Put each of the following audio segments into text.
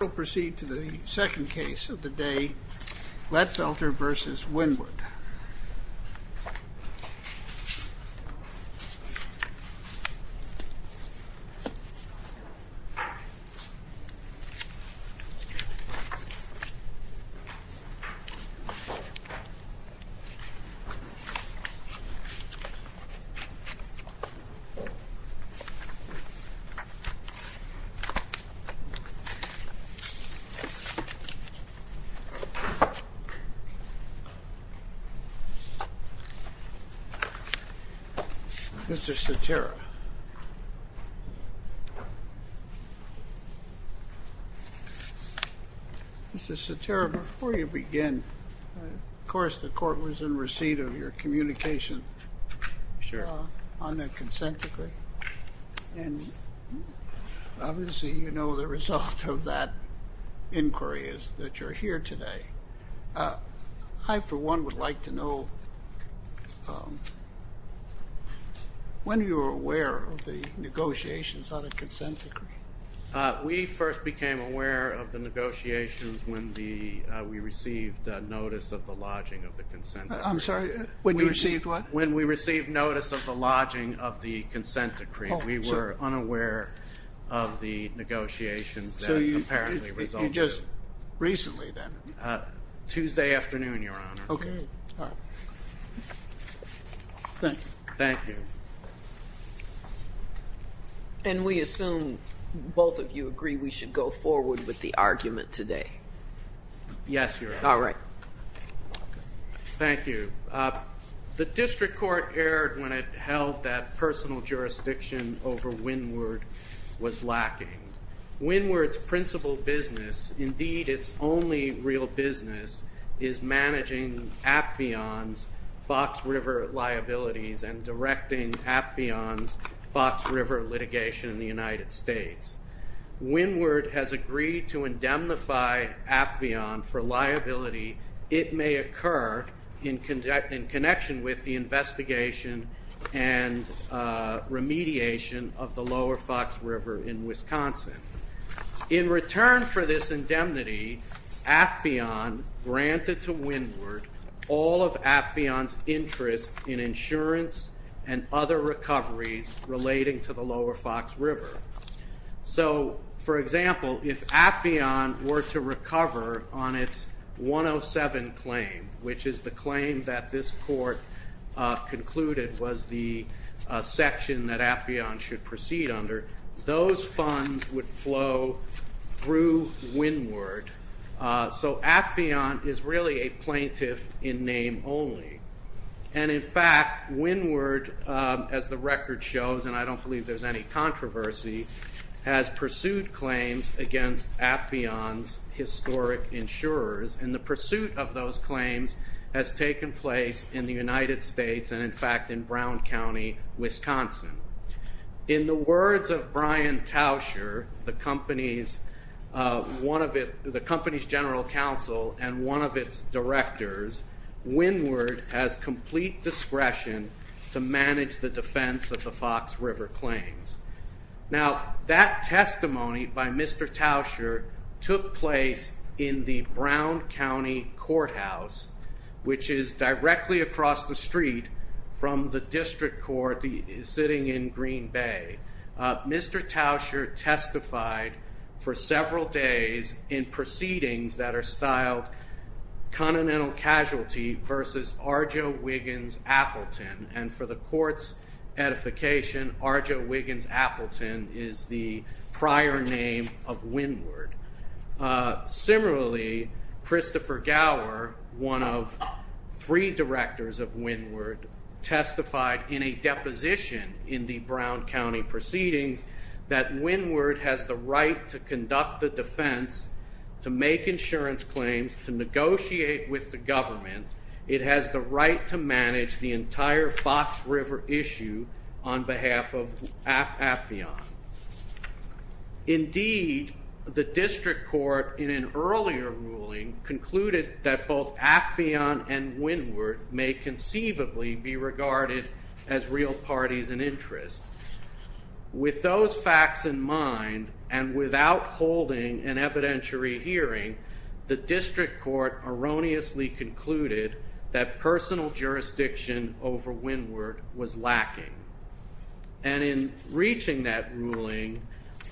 We'll proceed to the second case of the day, Glatfelter v. Windward. Mr. Satera. Mr. Satera, before you begin, of course the court was in receipt of your inquiry is that you're here today. I, for one, would like to know when you were aware of the negotiations on a consent decree? We first became aware of the negotiations when we received notice of the lodging of the consent decree. I'm sorry, when you received what? When we received notice of the lodging of the consent decree, we were unaware of the negotiations that had apparently resulted. Just recently then? Tuesday afternoon, Your Honor. Okay. All right. Thank you. Thank you. And we assume both of you agree we should go forward with the argument today? Yes, Your Honor. All right. Thank you. The district court erred when it held that personal jurisdiction over Windward was lacking. Windward's principal business, indeed its only real business, is managing Appheon's Fox River liabilities and directing Appheon's Fox River litigation in the United States. Windward has agreed to indemnify Appheon for liability it may occur in connection with the investigation and remediation of the Lower Fox River in Wisconsin. In return for this indemnity, Appheon granted to Windward all of Appheon's interest in insurance and other recoveries relating to the Lower Fox River. So, for example, if Appheon were to recover on its 107 claim, which is the claim that this court concluded was the section that Appheon should proceed under, those funds would flow through Windward. So Appheon is really a plaintiff in name only. And, in fact, Windward, as the record shows, and I don't believe there's any controversy, has pursued claims against Appheon's historic insurers. And the pursuit of those claims has taken place in the United States and, in fact, in Brown County, Wisconsin. In the words of Brian Tauscher, the company's general counsel and one of its directors, Windward has complete discretion to manage the defense of the Fox River claims. Now, that testimony by Mr. Tauscher took place in the Brown County courthouse, which is directly across the street from the district court sitting in Green Bay. Mr. Tauscher testified for several days in proceedings that are styled Continental Casualty versus Arjo Wiggins Appleton. And for the court's edification, Arjo Wiggins Appleton is the prior name of Windward. Similarly, Christopher Gower, one of three directors of Windward, testified in a deposition in the Brown County proceedings that Windward has the right to conduct the defense, to make insurance claims, to negotiate with the government. It has the right to manage the entire Fox River issue on behalf of Appheon. Indeed, the district court, in an earlier ruling, concluded that both Appheon and Windward may conceivably be regarded as real parties in interest. With those facts in mind, and without holding an evidentiary hearing, the district court erroneously concluded that personal jurisdiction over Windward was lacking. And in reaching that ruling,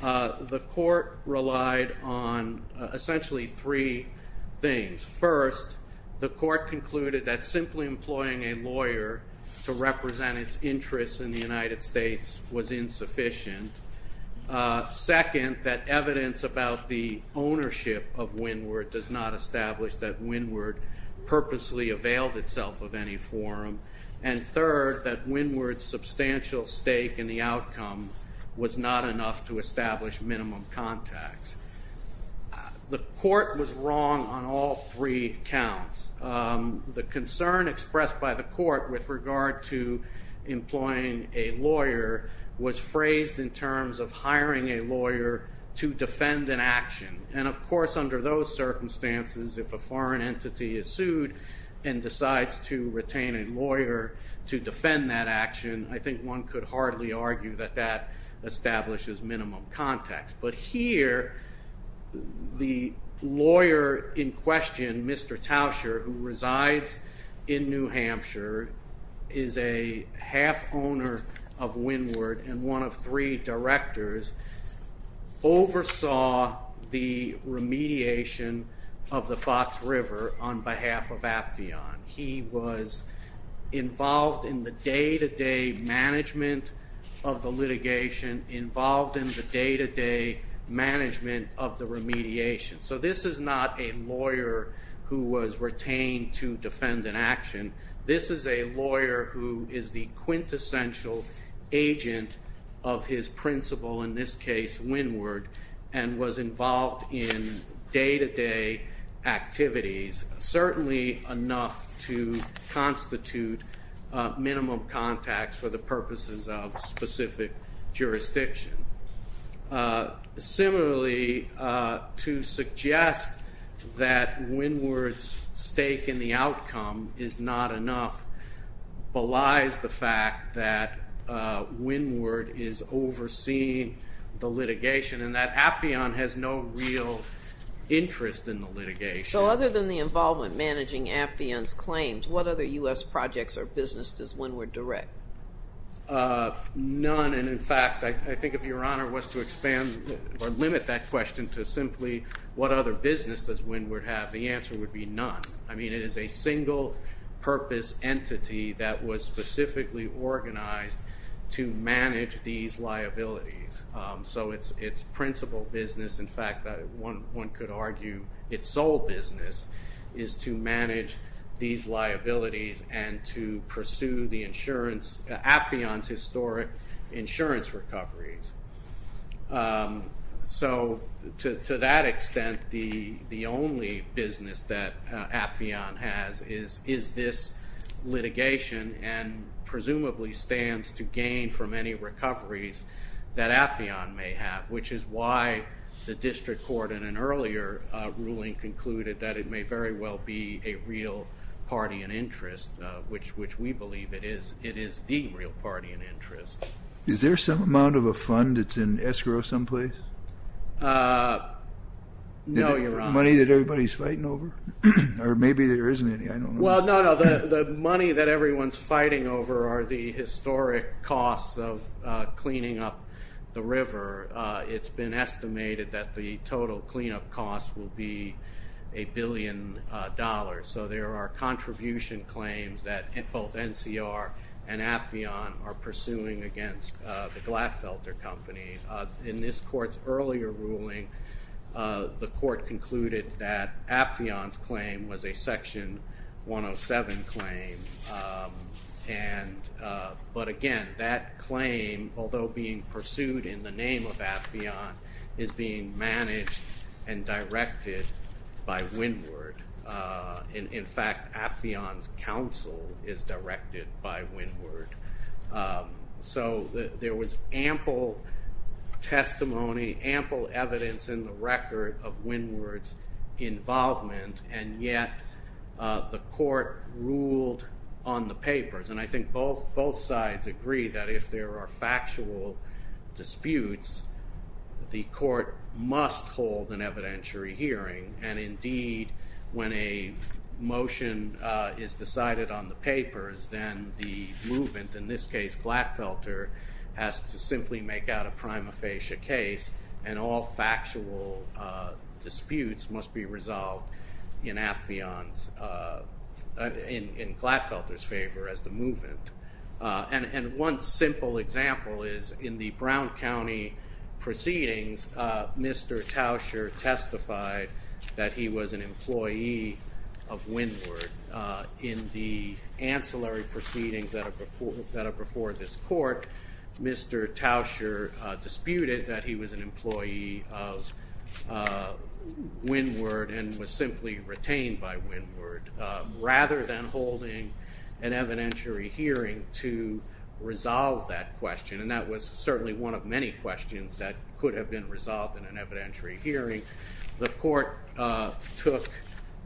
the court relied on essentially three things. First, the court concluded that simply employing a lawyer to represent its interests in the United States was insufficient. Second, that evidence about the ownership of Windward does not establish that Windward purposely availed itself of any forum. And third, that Windward's substantial stake in the outcome was not enough to establish minimum contacts. The court was wrong on all three counts. The concern expressed by the court with regard to employing a lawyer was phrased in terms of hiring a lawyer to defend an action. And of course, under those circumstances, if a foreign entity is sued and decides to retain a lawyer to defend that action, I think one could hardly argue that that establishes minimum contacts. But here, the lawyer in question, Mr. Tauscher, who resides in New Hampshire, is a half owner of Windward and one of three directors, oversaw the remediation of the Fox River on behalf of Appheon. He was involved in the day-to-day management of the litigation, involved in the day-to-day management of the remediation. So this is not a lawyer who was retained to defend an action. This is a lawyer who is the quintessential agent of his principle, in this case, Windward, and was involved in day-to-day activities. Certainly enough to constitute minimum contacts for the purposes of specific jurisdiction. Similarly, to suggest that Windward's stake in the outcome is not enough belies the fact that Windward is overseeing the litigation and that Appheon has no real interest in the litigation. So other than the involvement managing Appheon's claims, what other U.S. projects or business does Windward direct? None, and in fact, I think if Your Honor was to expand or limit that question to simply what other business does Windward have, the answer would be none. I mean, it is a single purpose entity that was specifically organized to manage these liabilities. So its principle business, in fact, one could argue its sole business, is to manage these liabilities and to pursue Appheon's historic insurance recoveries. So to that extent, the only business that Appheon has is this litigation and presumably stands to gain from any recoveries that Appheon may have, which is why the district court in an earlier ruling concluded that it may very well be a real party in interest, which we believe it is the real party in interest. Is there some amount of a fund that's in escrow someplace? No, Your Honor. Money that everybody's fighting over? Or maybe there isn't any, I don't know. Well, no, no, the money that everyone's fighting over are the historic costs of cleaning up the river. It's been estimated that the total cleanup costs will be a billion dollars. So there are contribution claims that both NCR and Appheon are pursuing against the Glatfelter Company. In this court's earlier ruling, the court concluded that Appheon's claim was a Section 107 claim. But again, that claim, although being pursued in the name of Appheon, is being managed and directed by Winward. In fact, Appheon's counsel is directed by Winward. So there was ample testimony, ample evidence in the record of Winward's involvement, and yet the court ruled on the papers. And I think both sides agree that if there are factual disputes, the court must hold an evidentiary hearing. And indeed, when a motion is decided on the papers, then the movement, in this case Glatfelter, has to simply make out a prima facie case. And all factual disputes must be resolved in Appheon's, in Glatfelter's favor as the movement. And one simple example is in the Brown County proceedings, Mr. Towsher testified that he was an employee of Winward. In the ancillary proceedings that are before this court, Mr. Towsher disputed that he was an employee of Winward and was simply retained by Winward. Rather than holding an evidentiary hearing to resolve that question, and that was certainly one of many questions that could have been resolved in an evidentiary hearing, the court took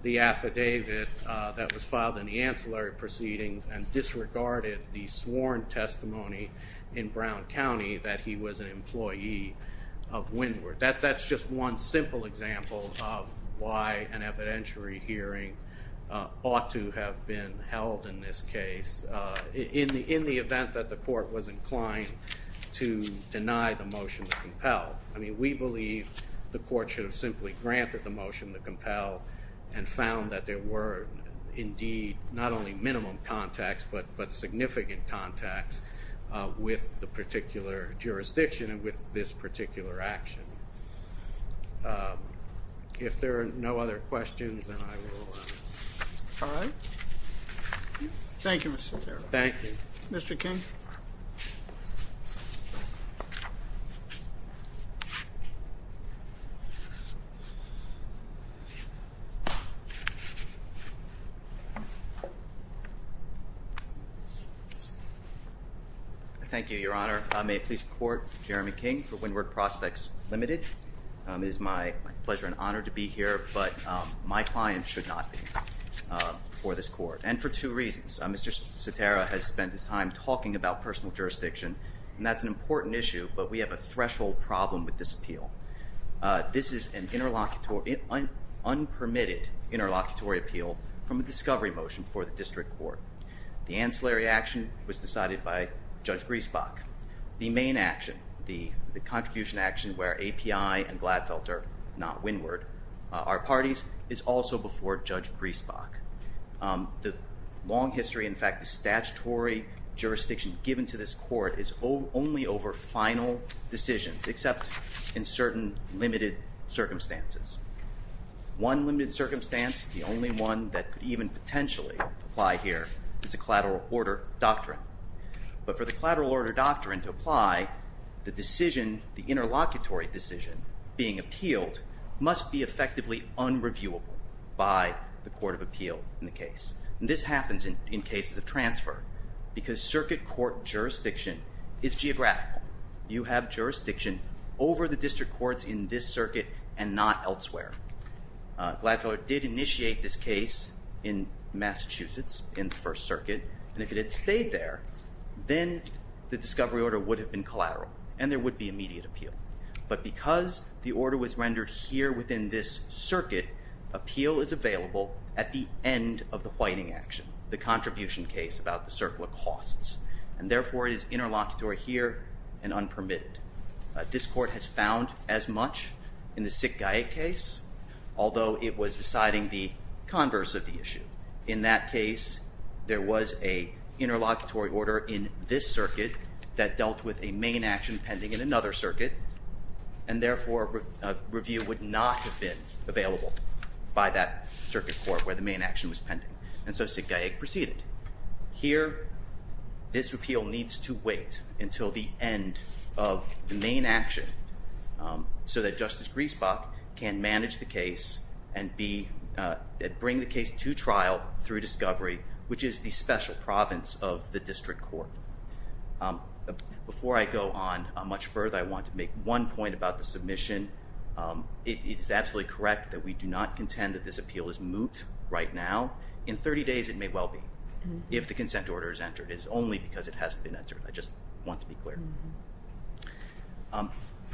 the affidavit that was filed in the ancillary proceedings and disregarded the sworn testimony in Brown County that he was an employee of Winward. That's just one simple example of why an evidentiary hearing ought to have been held in this case in the event that the court was inclined to deny the motion to compel. I mean, we believe the court should have simply granted the motion to compel and found that there were indeed not only minimum contacts, but significant contacts with the particular jurisdiction and with this particular action. If there are no other questions, then I will. All right. Thank you, Mr. Terrell. Thank you. Mr. King. Thank you, Your Honor. May it please the court, Jeremy King for Winward Prospects Limited. It is my pleasure and honor to be here, but my client should not be here before this court, and for two reasons. Mr. Cetera has spent his time talking about personal jurisdiction, and that's an important issue, but we have a threshold problem with this appeal. This is an unpermitted interlocutory appeal from a discovery motion for the district court. The ancillary action was decided by Judge Griesbach. The main action, the contribution action where API and Gladfelter, not Winward, are parties, is also before Judge Griesbach. The long history, in fact, the statutory jurisdiction given to this court is only over final decisions, except in certain limited circumstances. One limited circumstance, the only one that could even potentially apply here, is a collateral order doctrine. But for the collateral order doctrine to apply, the decision, the interlocutory decision being appealed, must be effectively unreviewable by the court of appeal in the case. And this happens in cases of transfer, because circuit court jurisdiction is geographical. You have jurisdiction over the district courts in this circuit and not elsewhere. Gladfelter did initiate this case in Massachusetts in the First Circuit, and if it had stayed there, then the discovery order would have been collateral, and there would be immediate appeal. But because the order was rendered here within this circuit, appeal is available at the end of the whiting action, the contribution case about the circle of costs. And therefore, it is interlocutory here and unpermitted. This court has found as much in the Sick-Gaik case, although it was deciding the converse of the issue. In that case, there was a interlocutory order in this circuit that dealt with a main action pending in another circuit. And therefore, review would not have been available by that circuit court where the main action was pending. And so Sick-Gaik proceeded. Here, this appeal needs to wait until the end of the main action so that Justice Griesbach can manage the case and bring the case to trial through discovery, which is the special province of the district court. Before I go on much further, I want to make one point about the submission. It is absolutely correct that we do not contend that this appeal is moot right now. In 30 days, it may well be if the consent order is entered. It is only because it hasn't been entered. I just want to be clear.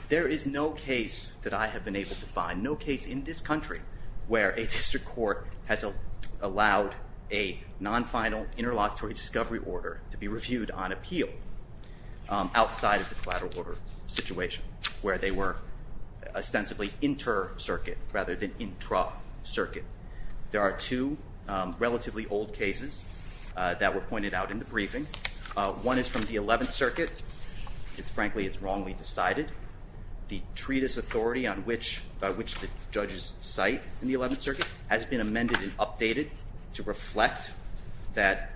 There is no case that I have been able to find, no case in this country, where a district court has allowed a non-final interlocutory discovery order to be reviewed on appeal outside of the collateral order situation where they were ostensibly inter-circuit rather than intra-circuit. There are two relatively old cases that were pointed out in the briefing. One is from the 11th Circuit. Frankly, it's wrongly decided. The treatise authority on which the judges cite in the 11th Circuit has been amended and updated to reflect that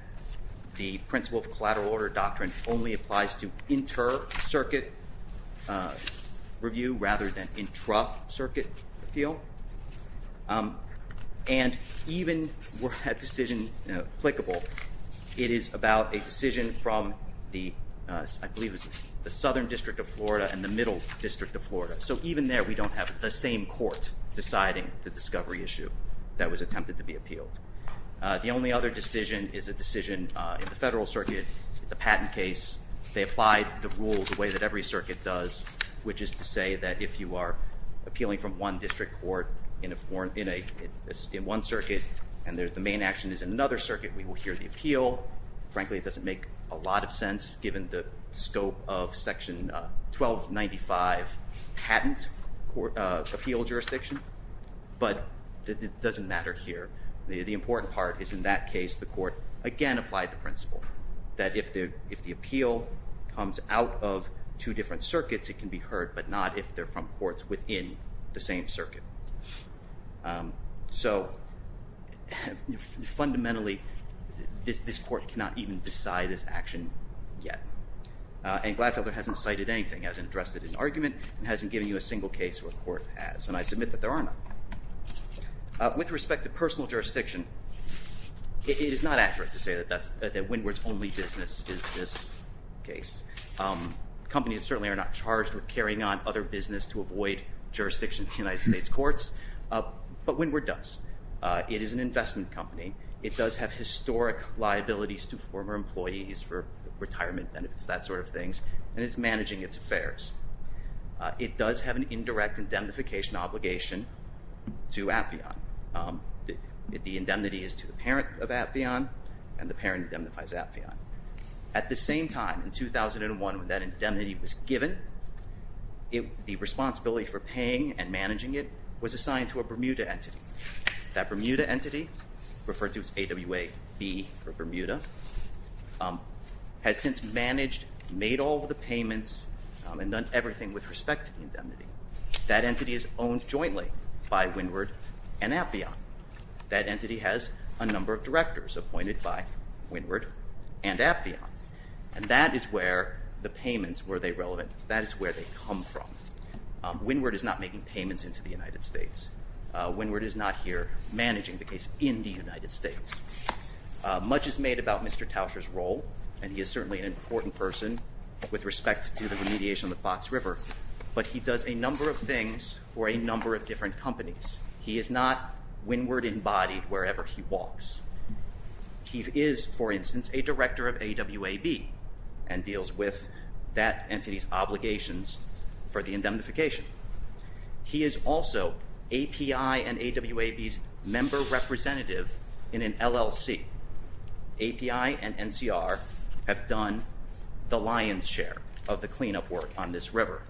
the principle of collateral order doctrine only applies to inter-circuit review rather than intra-circuit appeal. And even with that decision applicable, it is about a decision from the Southern District of Florida and the Middle District of Florida. So even there, we don't have the same court deciding the discovery issue that was attempted to be appealed. The only other decision is a decision in the Federal Circuit. It's a patent case. They applied the rules the way that every circuit does, which is to say that if you are appealing from one district court in one circuit and the main action is in another circuit, we will hear the appeal. Frankly, it doesn't make a lot of sense given the scope of Section 1295 patent appeal jurisdiction. But it doesn't matter here. The important part is in that case the court, again, applied the principle that if the appeal comes out of two different circuits, it can be heard, but not if they're from courts within the same circuit. So fundamentally, this court cannot even decide its action yet. And Gladfelder hasn't cited anything, hasn't addressed it in argument, and hasn't given you a single case where the court has. And I submit that there are none. With respect to personal jurisdiction, it is not accurate to say that Windward's only business is this case. Companies certainly are not charged with carrying on other business to avoid jurisdiction in the United States courts. But Windward does. It is an investment company. It does have historic liabilities to former employees for retirement benefits, that sort of things. And it's managing its affairs. It does have an indirect indemnification obligation to Appian. The indemnity is to the parent of Appian, and the parent indemnifies Appian. At the same time, in 2001, when that indemnity was given, the responsibility for paying and managing it was assigned to a Bermuda entity. That Bermuda entity, referred to as AWAB for Bermuda, has since managed, made all of the payments, and done everything with respect to the indemnity. That entity is owned jointly by Windward and Appian. That entity has a number of directors appointed by Windward and Appian. And that is where the payments, were they relevant, that is where they come from. Windward is not making payments into the United States. Windward is not here managing the case in the United States. Much is made about Mr. Tauscher's role, and he is certainly an important person with respect to the remediation of the Fox River. But he does a number of things for a number of different companies. He is not, Windward embodied, wherever he walks. He is, for instance, a director of AWAB, and deals with that entity's obligations for the indemnification. He is also API and AWAB's member representative in an LLC. API and NCR have done the lion's share of the cleanup work on this river.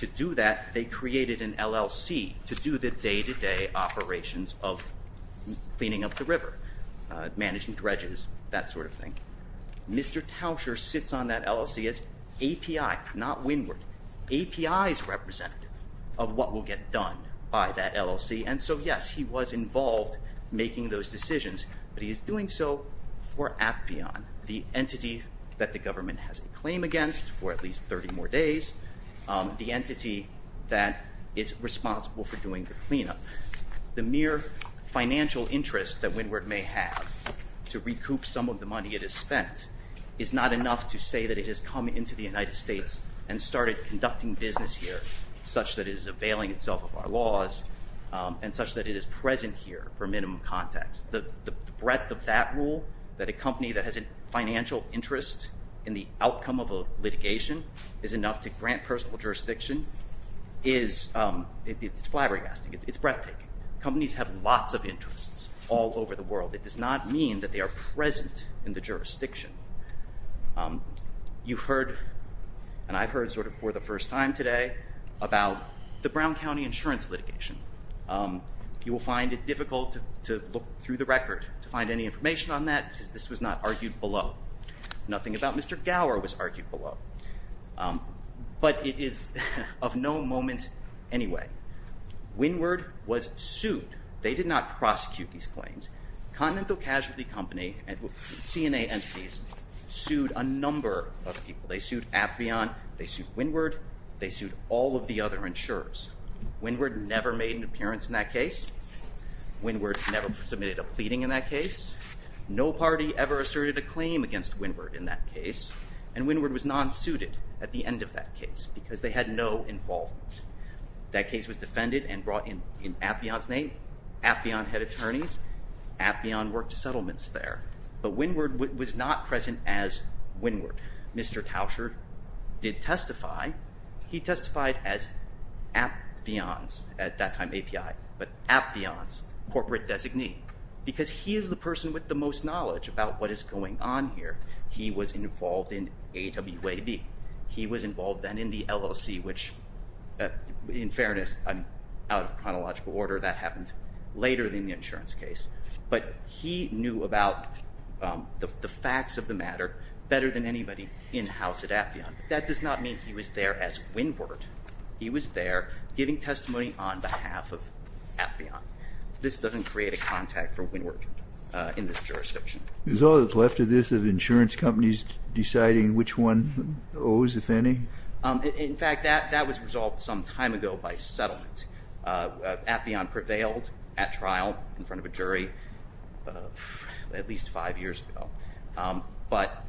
To do that, they created an LLC to do the day-to-day operations of cleaning up the river, managing dredges, that sort of thing. Mr. Tauscher sits on that LLC as API, not Windward. API's representative of what will get done by that LLC. And so, yes, he was involved making those decisions, but he is doing so for Appian, the entity that the government has a claim against for at least 30 more days, the entity that is responsible for doing the cleanup. The mere financial interest that Windward may have to recoup some of the money it has spent is not enough to say that it has come into the United States and started conducting business here, such that it is availing itself of our laws and such that it is present here for minimum context. The breadth of that rule, that a company that has a financial interest in the outcome of a litigation is enough to grant personal jurisdiction, it's flabbergasting. It's breathtaking. Companies have lots of interests all over the world. It does not mean that they are present in the jurisdiction. You've heard, and I've heard sort of for the first time today, about the Brown County insurance litigation. You will find it difficult to look through the record to find any information on that because this was not argued below. Nothing about Mr. Gower was argued below. But it is of no moment anyway. Windward was sued. They did not prosecute these claims. Continental Casualty Company and CNA entities sued a number of people. They sued Affion, they sued Windward, they sued all of the other insurers. Windward never made an appearance in that case. Windward never submitted a pleading in that case. No party ever asserted a claim against Windward in that case. And Windward was non-suited at the end of that case because they had no involvement. That case was defended and brought in Affion's name. Affion had attorneys. Affion worked settlements there. But Windward was not present as Windward. Mr. Tauscher did testify. He testified as Affions, at that time API, but Affions, corporate designee, because he is the person with the most knowledge about what is going on here. He was involved in AWAB. He was involved then in the LLC, which, in fairness, out of chronological order, that happened later than the insurance case. But he knew about the facts of the matter better than anybody in-house at Affion. That does not mean he was there as Windward. He was there giving testimony on behalf of Affion. This doesn't create a contact for Windward in this jurisdiction. Is all that's left of this of insurance companies deciding which one owes, if any? In fact, that was resolved some time ago by settlement. Affion prevailed at trial in front of a jury at least five years ago. But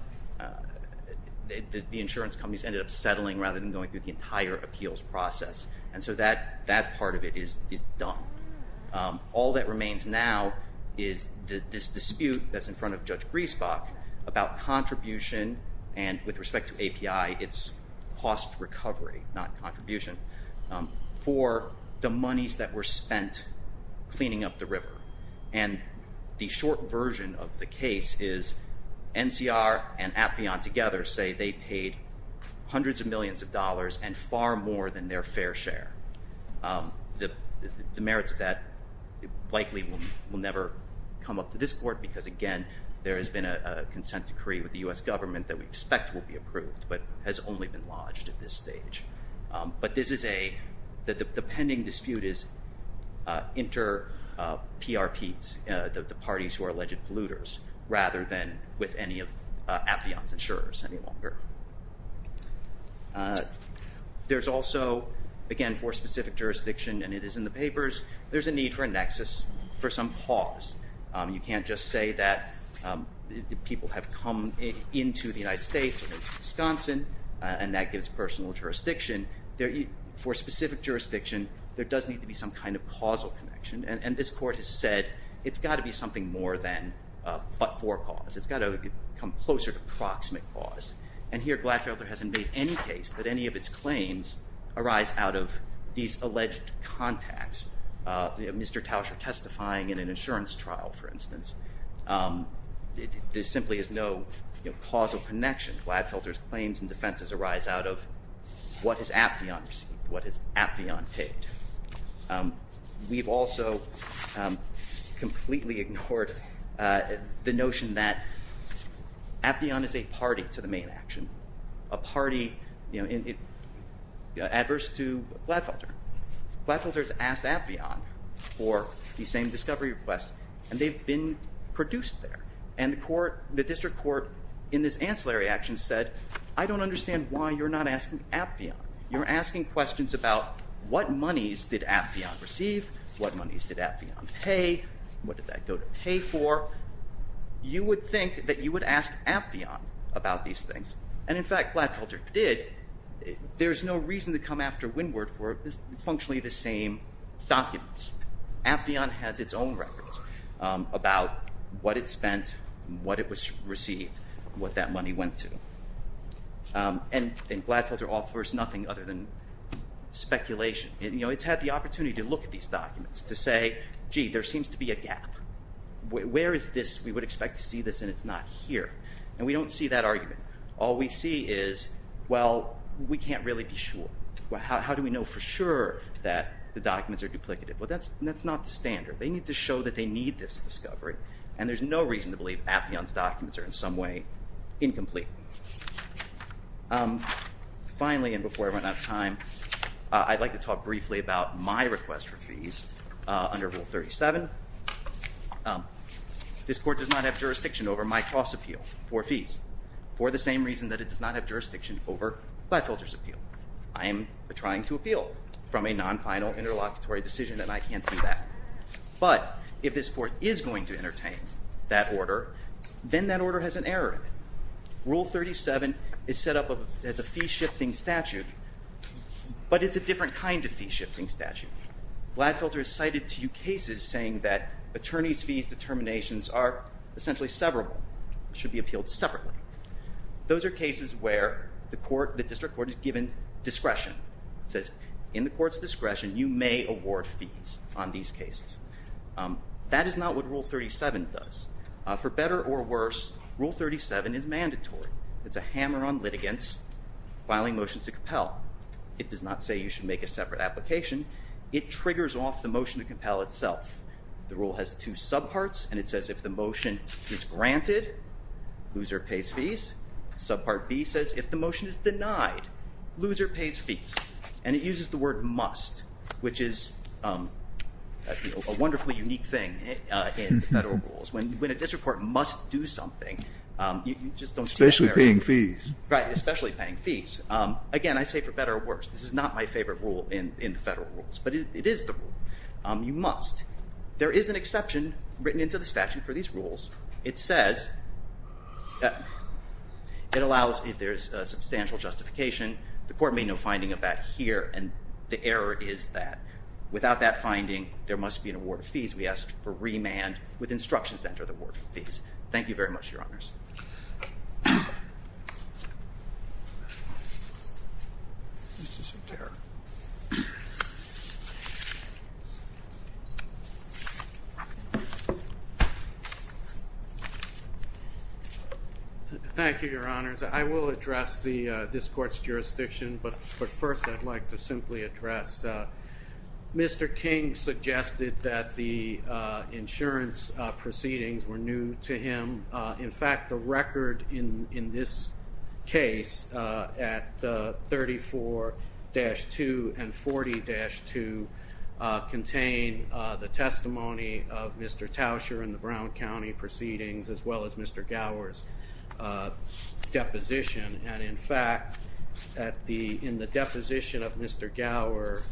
the insurance companies ended up settling rather than going through the entire appeals process. And so that part of it is done. All that remains now is this dispute that's in front of Judge Griesbach about contribution, and with respect to API, it's cost recovery, not contribution, for the monies that were spent cleaning up the river. And the short version of the case is NCR and Affion together say they paid hundreds of millions of dollars and far more than their fair share. The merits of that likely will never come up to this court because, again, there has been a consent decree with the U.S. government that we expect will be approved, but has only been lodged at this stage. But the pending dispute is inter-PRPs, the parties who are alleged polluters, rather than with any of Affion's insurers any longer. There's also, again, for specific jurisdiction, and it is in the papers, there's a need for a nexus for some cause. You can't just say that people have come into the United States, Wisconsin, and that gives personal jurisdiction. For specific jurisdiction, there does need to be some kind of causal connection. And this court has said it's got to be something more than but-for cause. It's got to come closer to proximate cause. And here Gladfelter hasn't made any case that any of its claims arise out of these alleged contacts. Mr. Tauscher testifying in an insurance trial, for instance. There simply is no causal connection. Gladfelter's claims and defenses arise out of what has Affion received, what has Affion paid. We've also completely ignored the notion that Affion is a party to the main action. A party adverse to Gladfelter. Gladfelter's asked Affion for the same discovery request, and they've been produced there. And the district court in this ancillary action said, I don't understand why you're not asking Affion. You're asking questions about what monies did Affion receive? What monies did Affion pay? What did that go to pay for? You would think that you would ask Affion about these things. And, in fact, Gladfelter did. There's no reason to come after Winward for functionally the same documents. Affion has its own records about what it spent, what it received, what that money went to. And Gladfelter offers nothing other than speculation. It's had the opportunity to look at these documents to say, gee, there seems to be a gap. Where is this? We would expect to see this, and it's not here. And we don't see that argument. All we see is, well, we can't really be sure. How do we know for sure that the documents are duplicative? Well, that's not the standard. They need to show that they need this discovery. And there's no reason to believe Affion's documents are in some way incomplete. Finally, and before I run out of time, I'd like to talk briefly about my request for fees under Rule 37. This Court does not have jurisdiction over my cross-appeal for fees for the same reason that it does not have jurisdiction over Gladfelter's appeal. I am trying to appeal from a non-final interlocutory decision, and I can't do that. But if this Court is going to entertain that order, then that order has an error in it. Rule 37 is set up as a fee-shifting statute, but it's a different kind of fee-shifting statute. Gladfelter has cited two cases saying that attorneys' fees determinations are essentially severable, should be appealed separately. Those are cases where the District Court is given discretion. It says, in the Court's discretion, you may award fees on these cases. That is not what Rule 37 does. For better or worse, Rule 37 is mandatory. It's a hammer on litigants filing motions to compel. It does not say you should make a separate application. It triggers off the motion to compel itself. The rule has two subparts, and it says if the motion is granted, loser pays fees. Subpart B says if the motion is denied, loser pays fees. And it uses the word must, which is a wonderfully unique thing in federal rules. When a District Court must do something, you just don't see that very often. Especially paying fees. Right, especially paying fees. Again, I say for better or worse. This is not my favorite rule in the federal rules, but it is the rule. You must. There is an exception written into the statute for these rules. It says it allows if there is substantial justification. The Court made no finding of that here, and the error is that. Without that finding, there must be an award of fees. We ask for remand with instructions to enter the award of fees. Thank you very much, Your Honors. Thank you, Your Honors. I will address this Court's jurisdiction, but first I'd like to simply address. Mr. King suggested that the insurance proceedings were new to him. In fact, the record in this case, at 34-2 and 40-2, contain the testimony of Mr. Tauscher and the Brown County proceedings, as well as Mr. Gower's deposition. And in fact, in the deposition of Mr. Gower,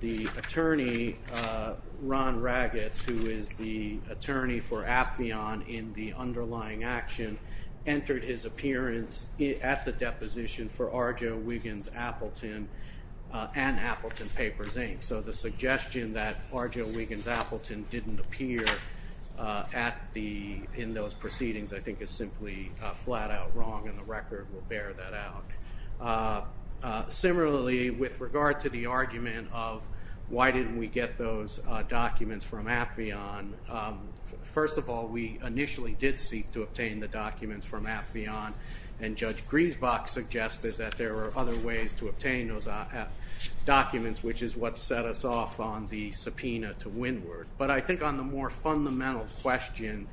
the attorney, Ron Raggetts, who is the attorney for Appheon in the underlying action, entered his appearance at the deposition for Arjo Wiggins Appleton and Appleton Papers, Inc. So the suggestion that Arjo Wiggins Appleton didn't appear in those proceedings, I think is simply flat-out wrong, and the record will bear that out. Similarly, with regard to the argument of why didn't we get those documents from Appheon, first of all, we initially did seek to obtain the documents from Appheon, and Judge Griesbach suggested that there were other ways to obtain those documents, which is what set us off on the subpoena to Winward. But I think on the more fundamental question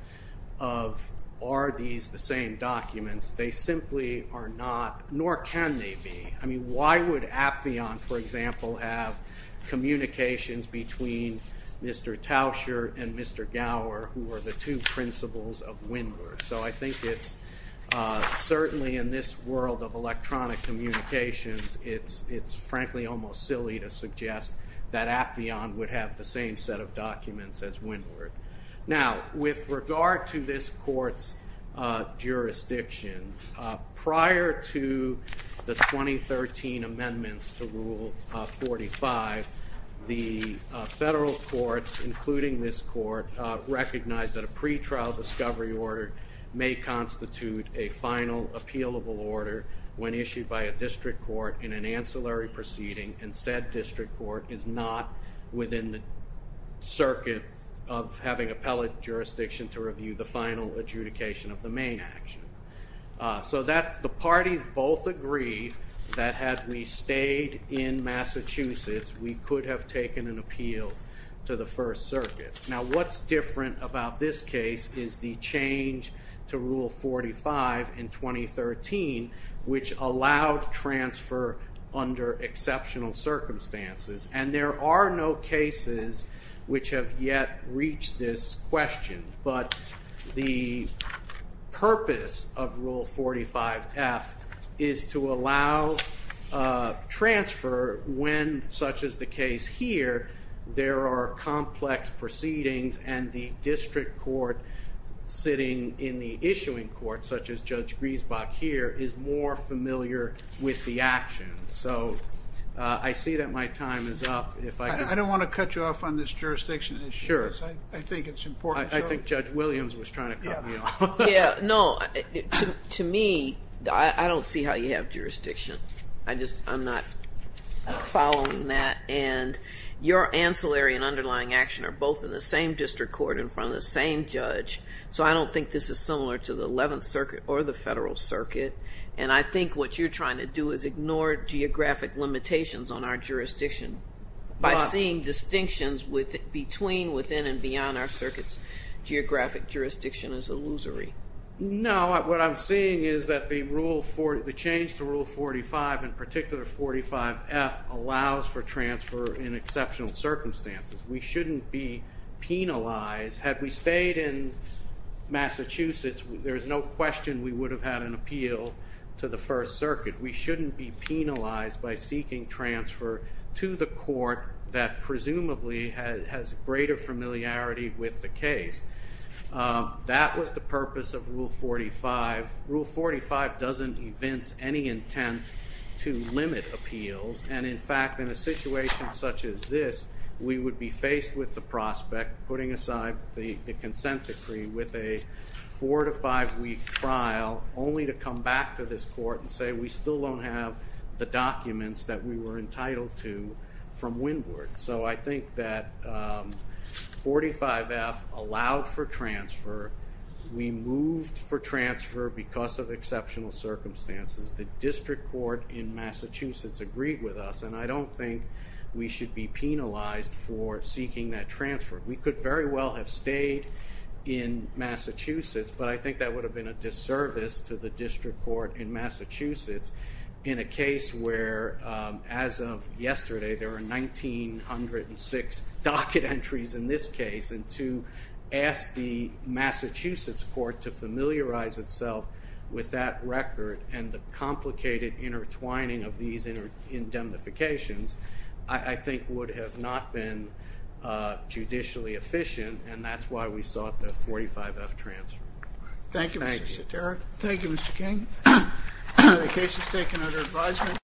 of are these the same documents, they simply are not, nor can they be. I mean, why would Appheon, for example, have communications between Mr. Tauscher and Mr. Gower, who are the two principals of Winward? So I think it's certainly in this world of electronic communications, it's frankly almost silly to suggest that Appheon would have the same set of documents as Winward. Now, with regard to this court's jurisdiction, prior to the 2013 amendments to Rule 45, the federal courts, including this court, recognized that a pretrial discovery order may constitute a final appealable order when issued by a district court in an ancillary proceeding, and said district court is not within the circuit of having appellate jurisdiction to review the final adjudication of the main action. So the parties both agreed that had we stayed in Massachusetts, we could have taken an appeal to the First Circuit. Now, what's different about this case is the change to Rule 45 in 2013, which allowed transfer under exceptional circumstances, and there are no cases which have yet reached this question. But the purpose of Rule 45-F is to allow transfer when, such as the case here, there are complex proceedings and the district court sitting in the issuing court, such as Judge Griesbach here, is more familiar with the action. So I see that my time is up. I don't want to cut you off on this jurisdiction issue. Sure. I think it's important. I think Judge Williams was trying to cut me off. No, to me, I don't see how you have jurisdiction. I'm not following that. And your ancillary and underlying action are both in the same district court in front of the same judge, so I don't think this is similar to the Eleventh Circuit or the Federal Circuit. And I think what you're trying to do is ignore geographic limitations on our jurisdiction. By seeing distinctions between, within, and beyond our circuit's geographic jurisdiction is illusory. No, what I'm seeing is that the change to Rule 45, in particular 45-F, allows for transfer in exceptional circumstances. We shouldn't be penalized. Had we stayed in Massachusetts, there's no question we would have had an appeal to the First Circuit. We shouldn't be penalized by seeking transfer to the court that presumably has greater familiarity with the case. That was the purpose of Rule 45. Rule 45 doesn't evince any intent to limit appeals. And in fact, in a situation such as this, we would be faced with the prospect, putting aside the consent decree with a four- to five-week trial, only to come back to this court and say, we still don't have the documents that we were entitled to from Wynwood. So I think that 45-F allowed for transfer. We moved for transfer because of exceptional circumstances. The district court in Massachusetts agreed with us, and I don't think we should be penalized for seeking that transfer. We could very well have stayed in Massachusetts, but I think that would have been a disservice to the district court in Massachusetts in a case where, as of yesterday, there were 1,906 docket entries in this case. And to ask the Massachusetts court to familiarize itself with that record and the complicated intertwining of these indemnifications, I think would have not been judicially efficient, and that's why we sought the 45-F transfer. Thank you, Mr. Soterio. Thank you, Mr. King. The case is taken under advisement.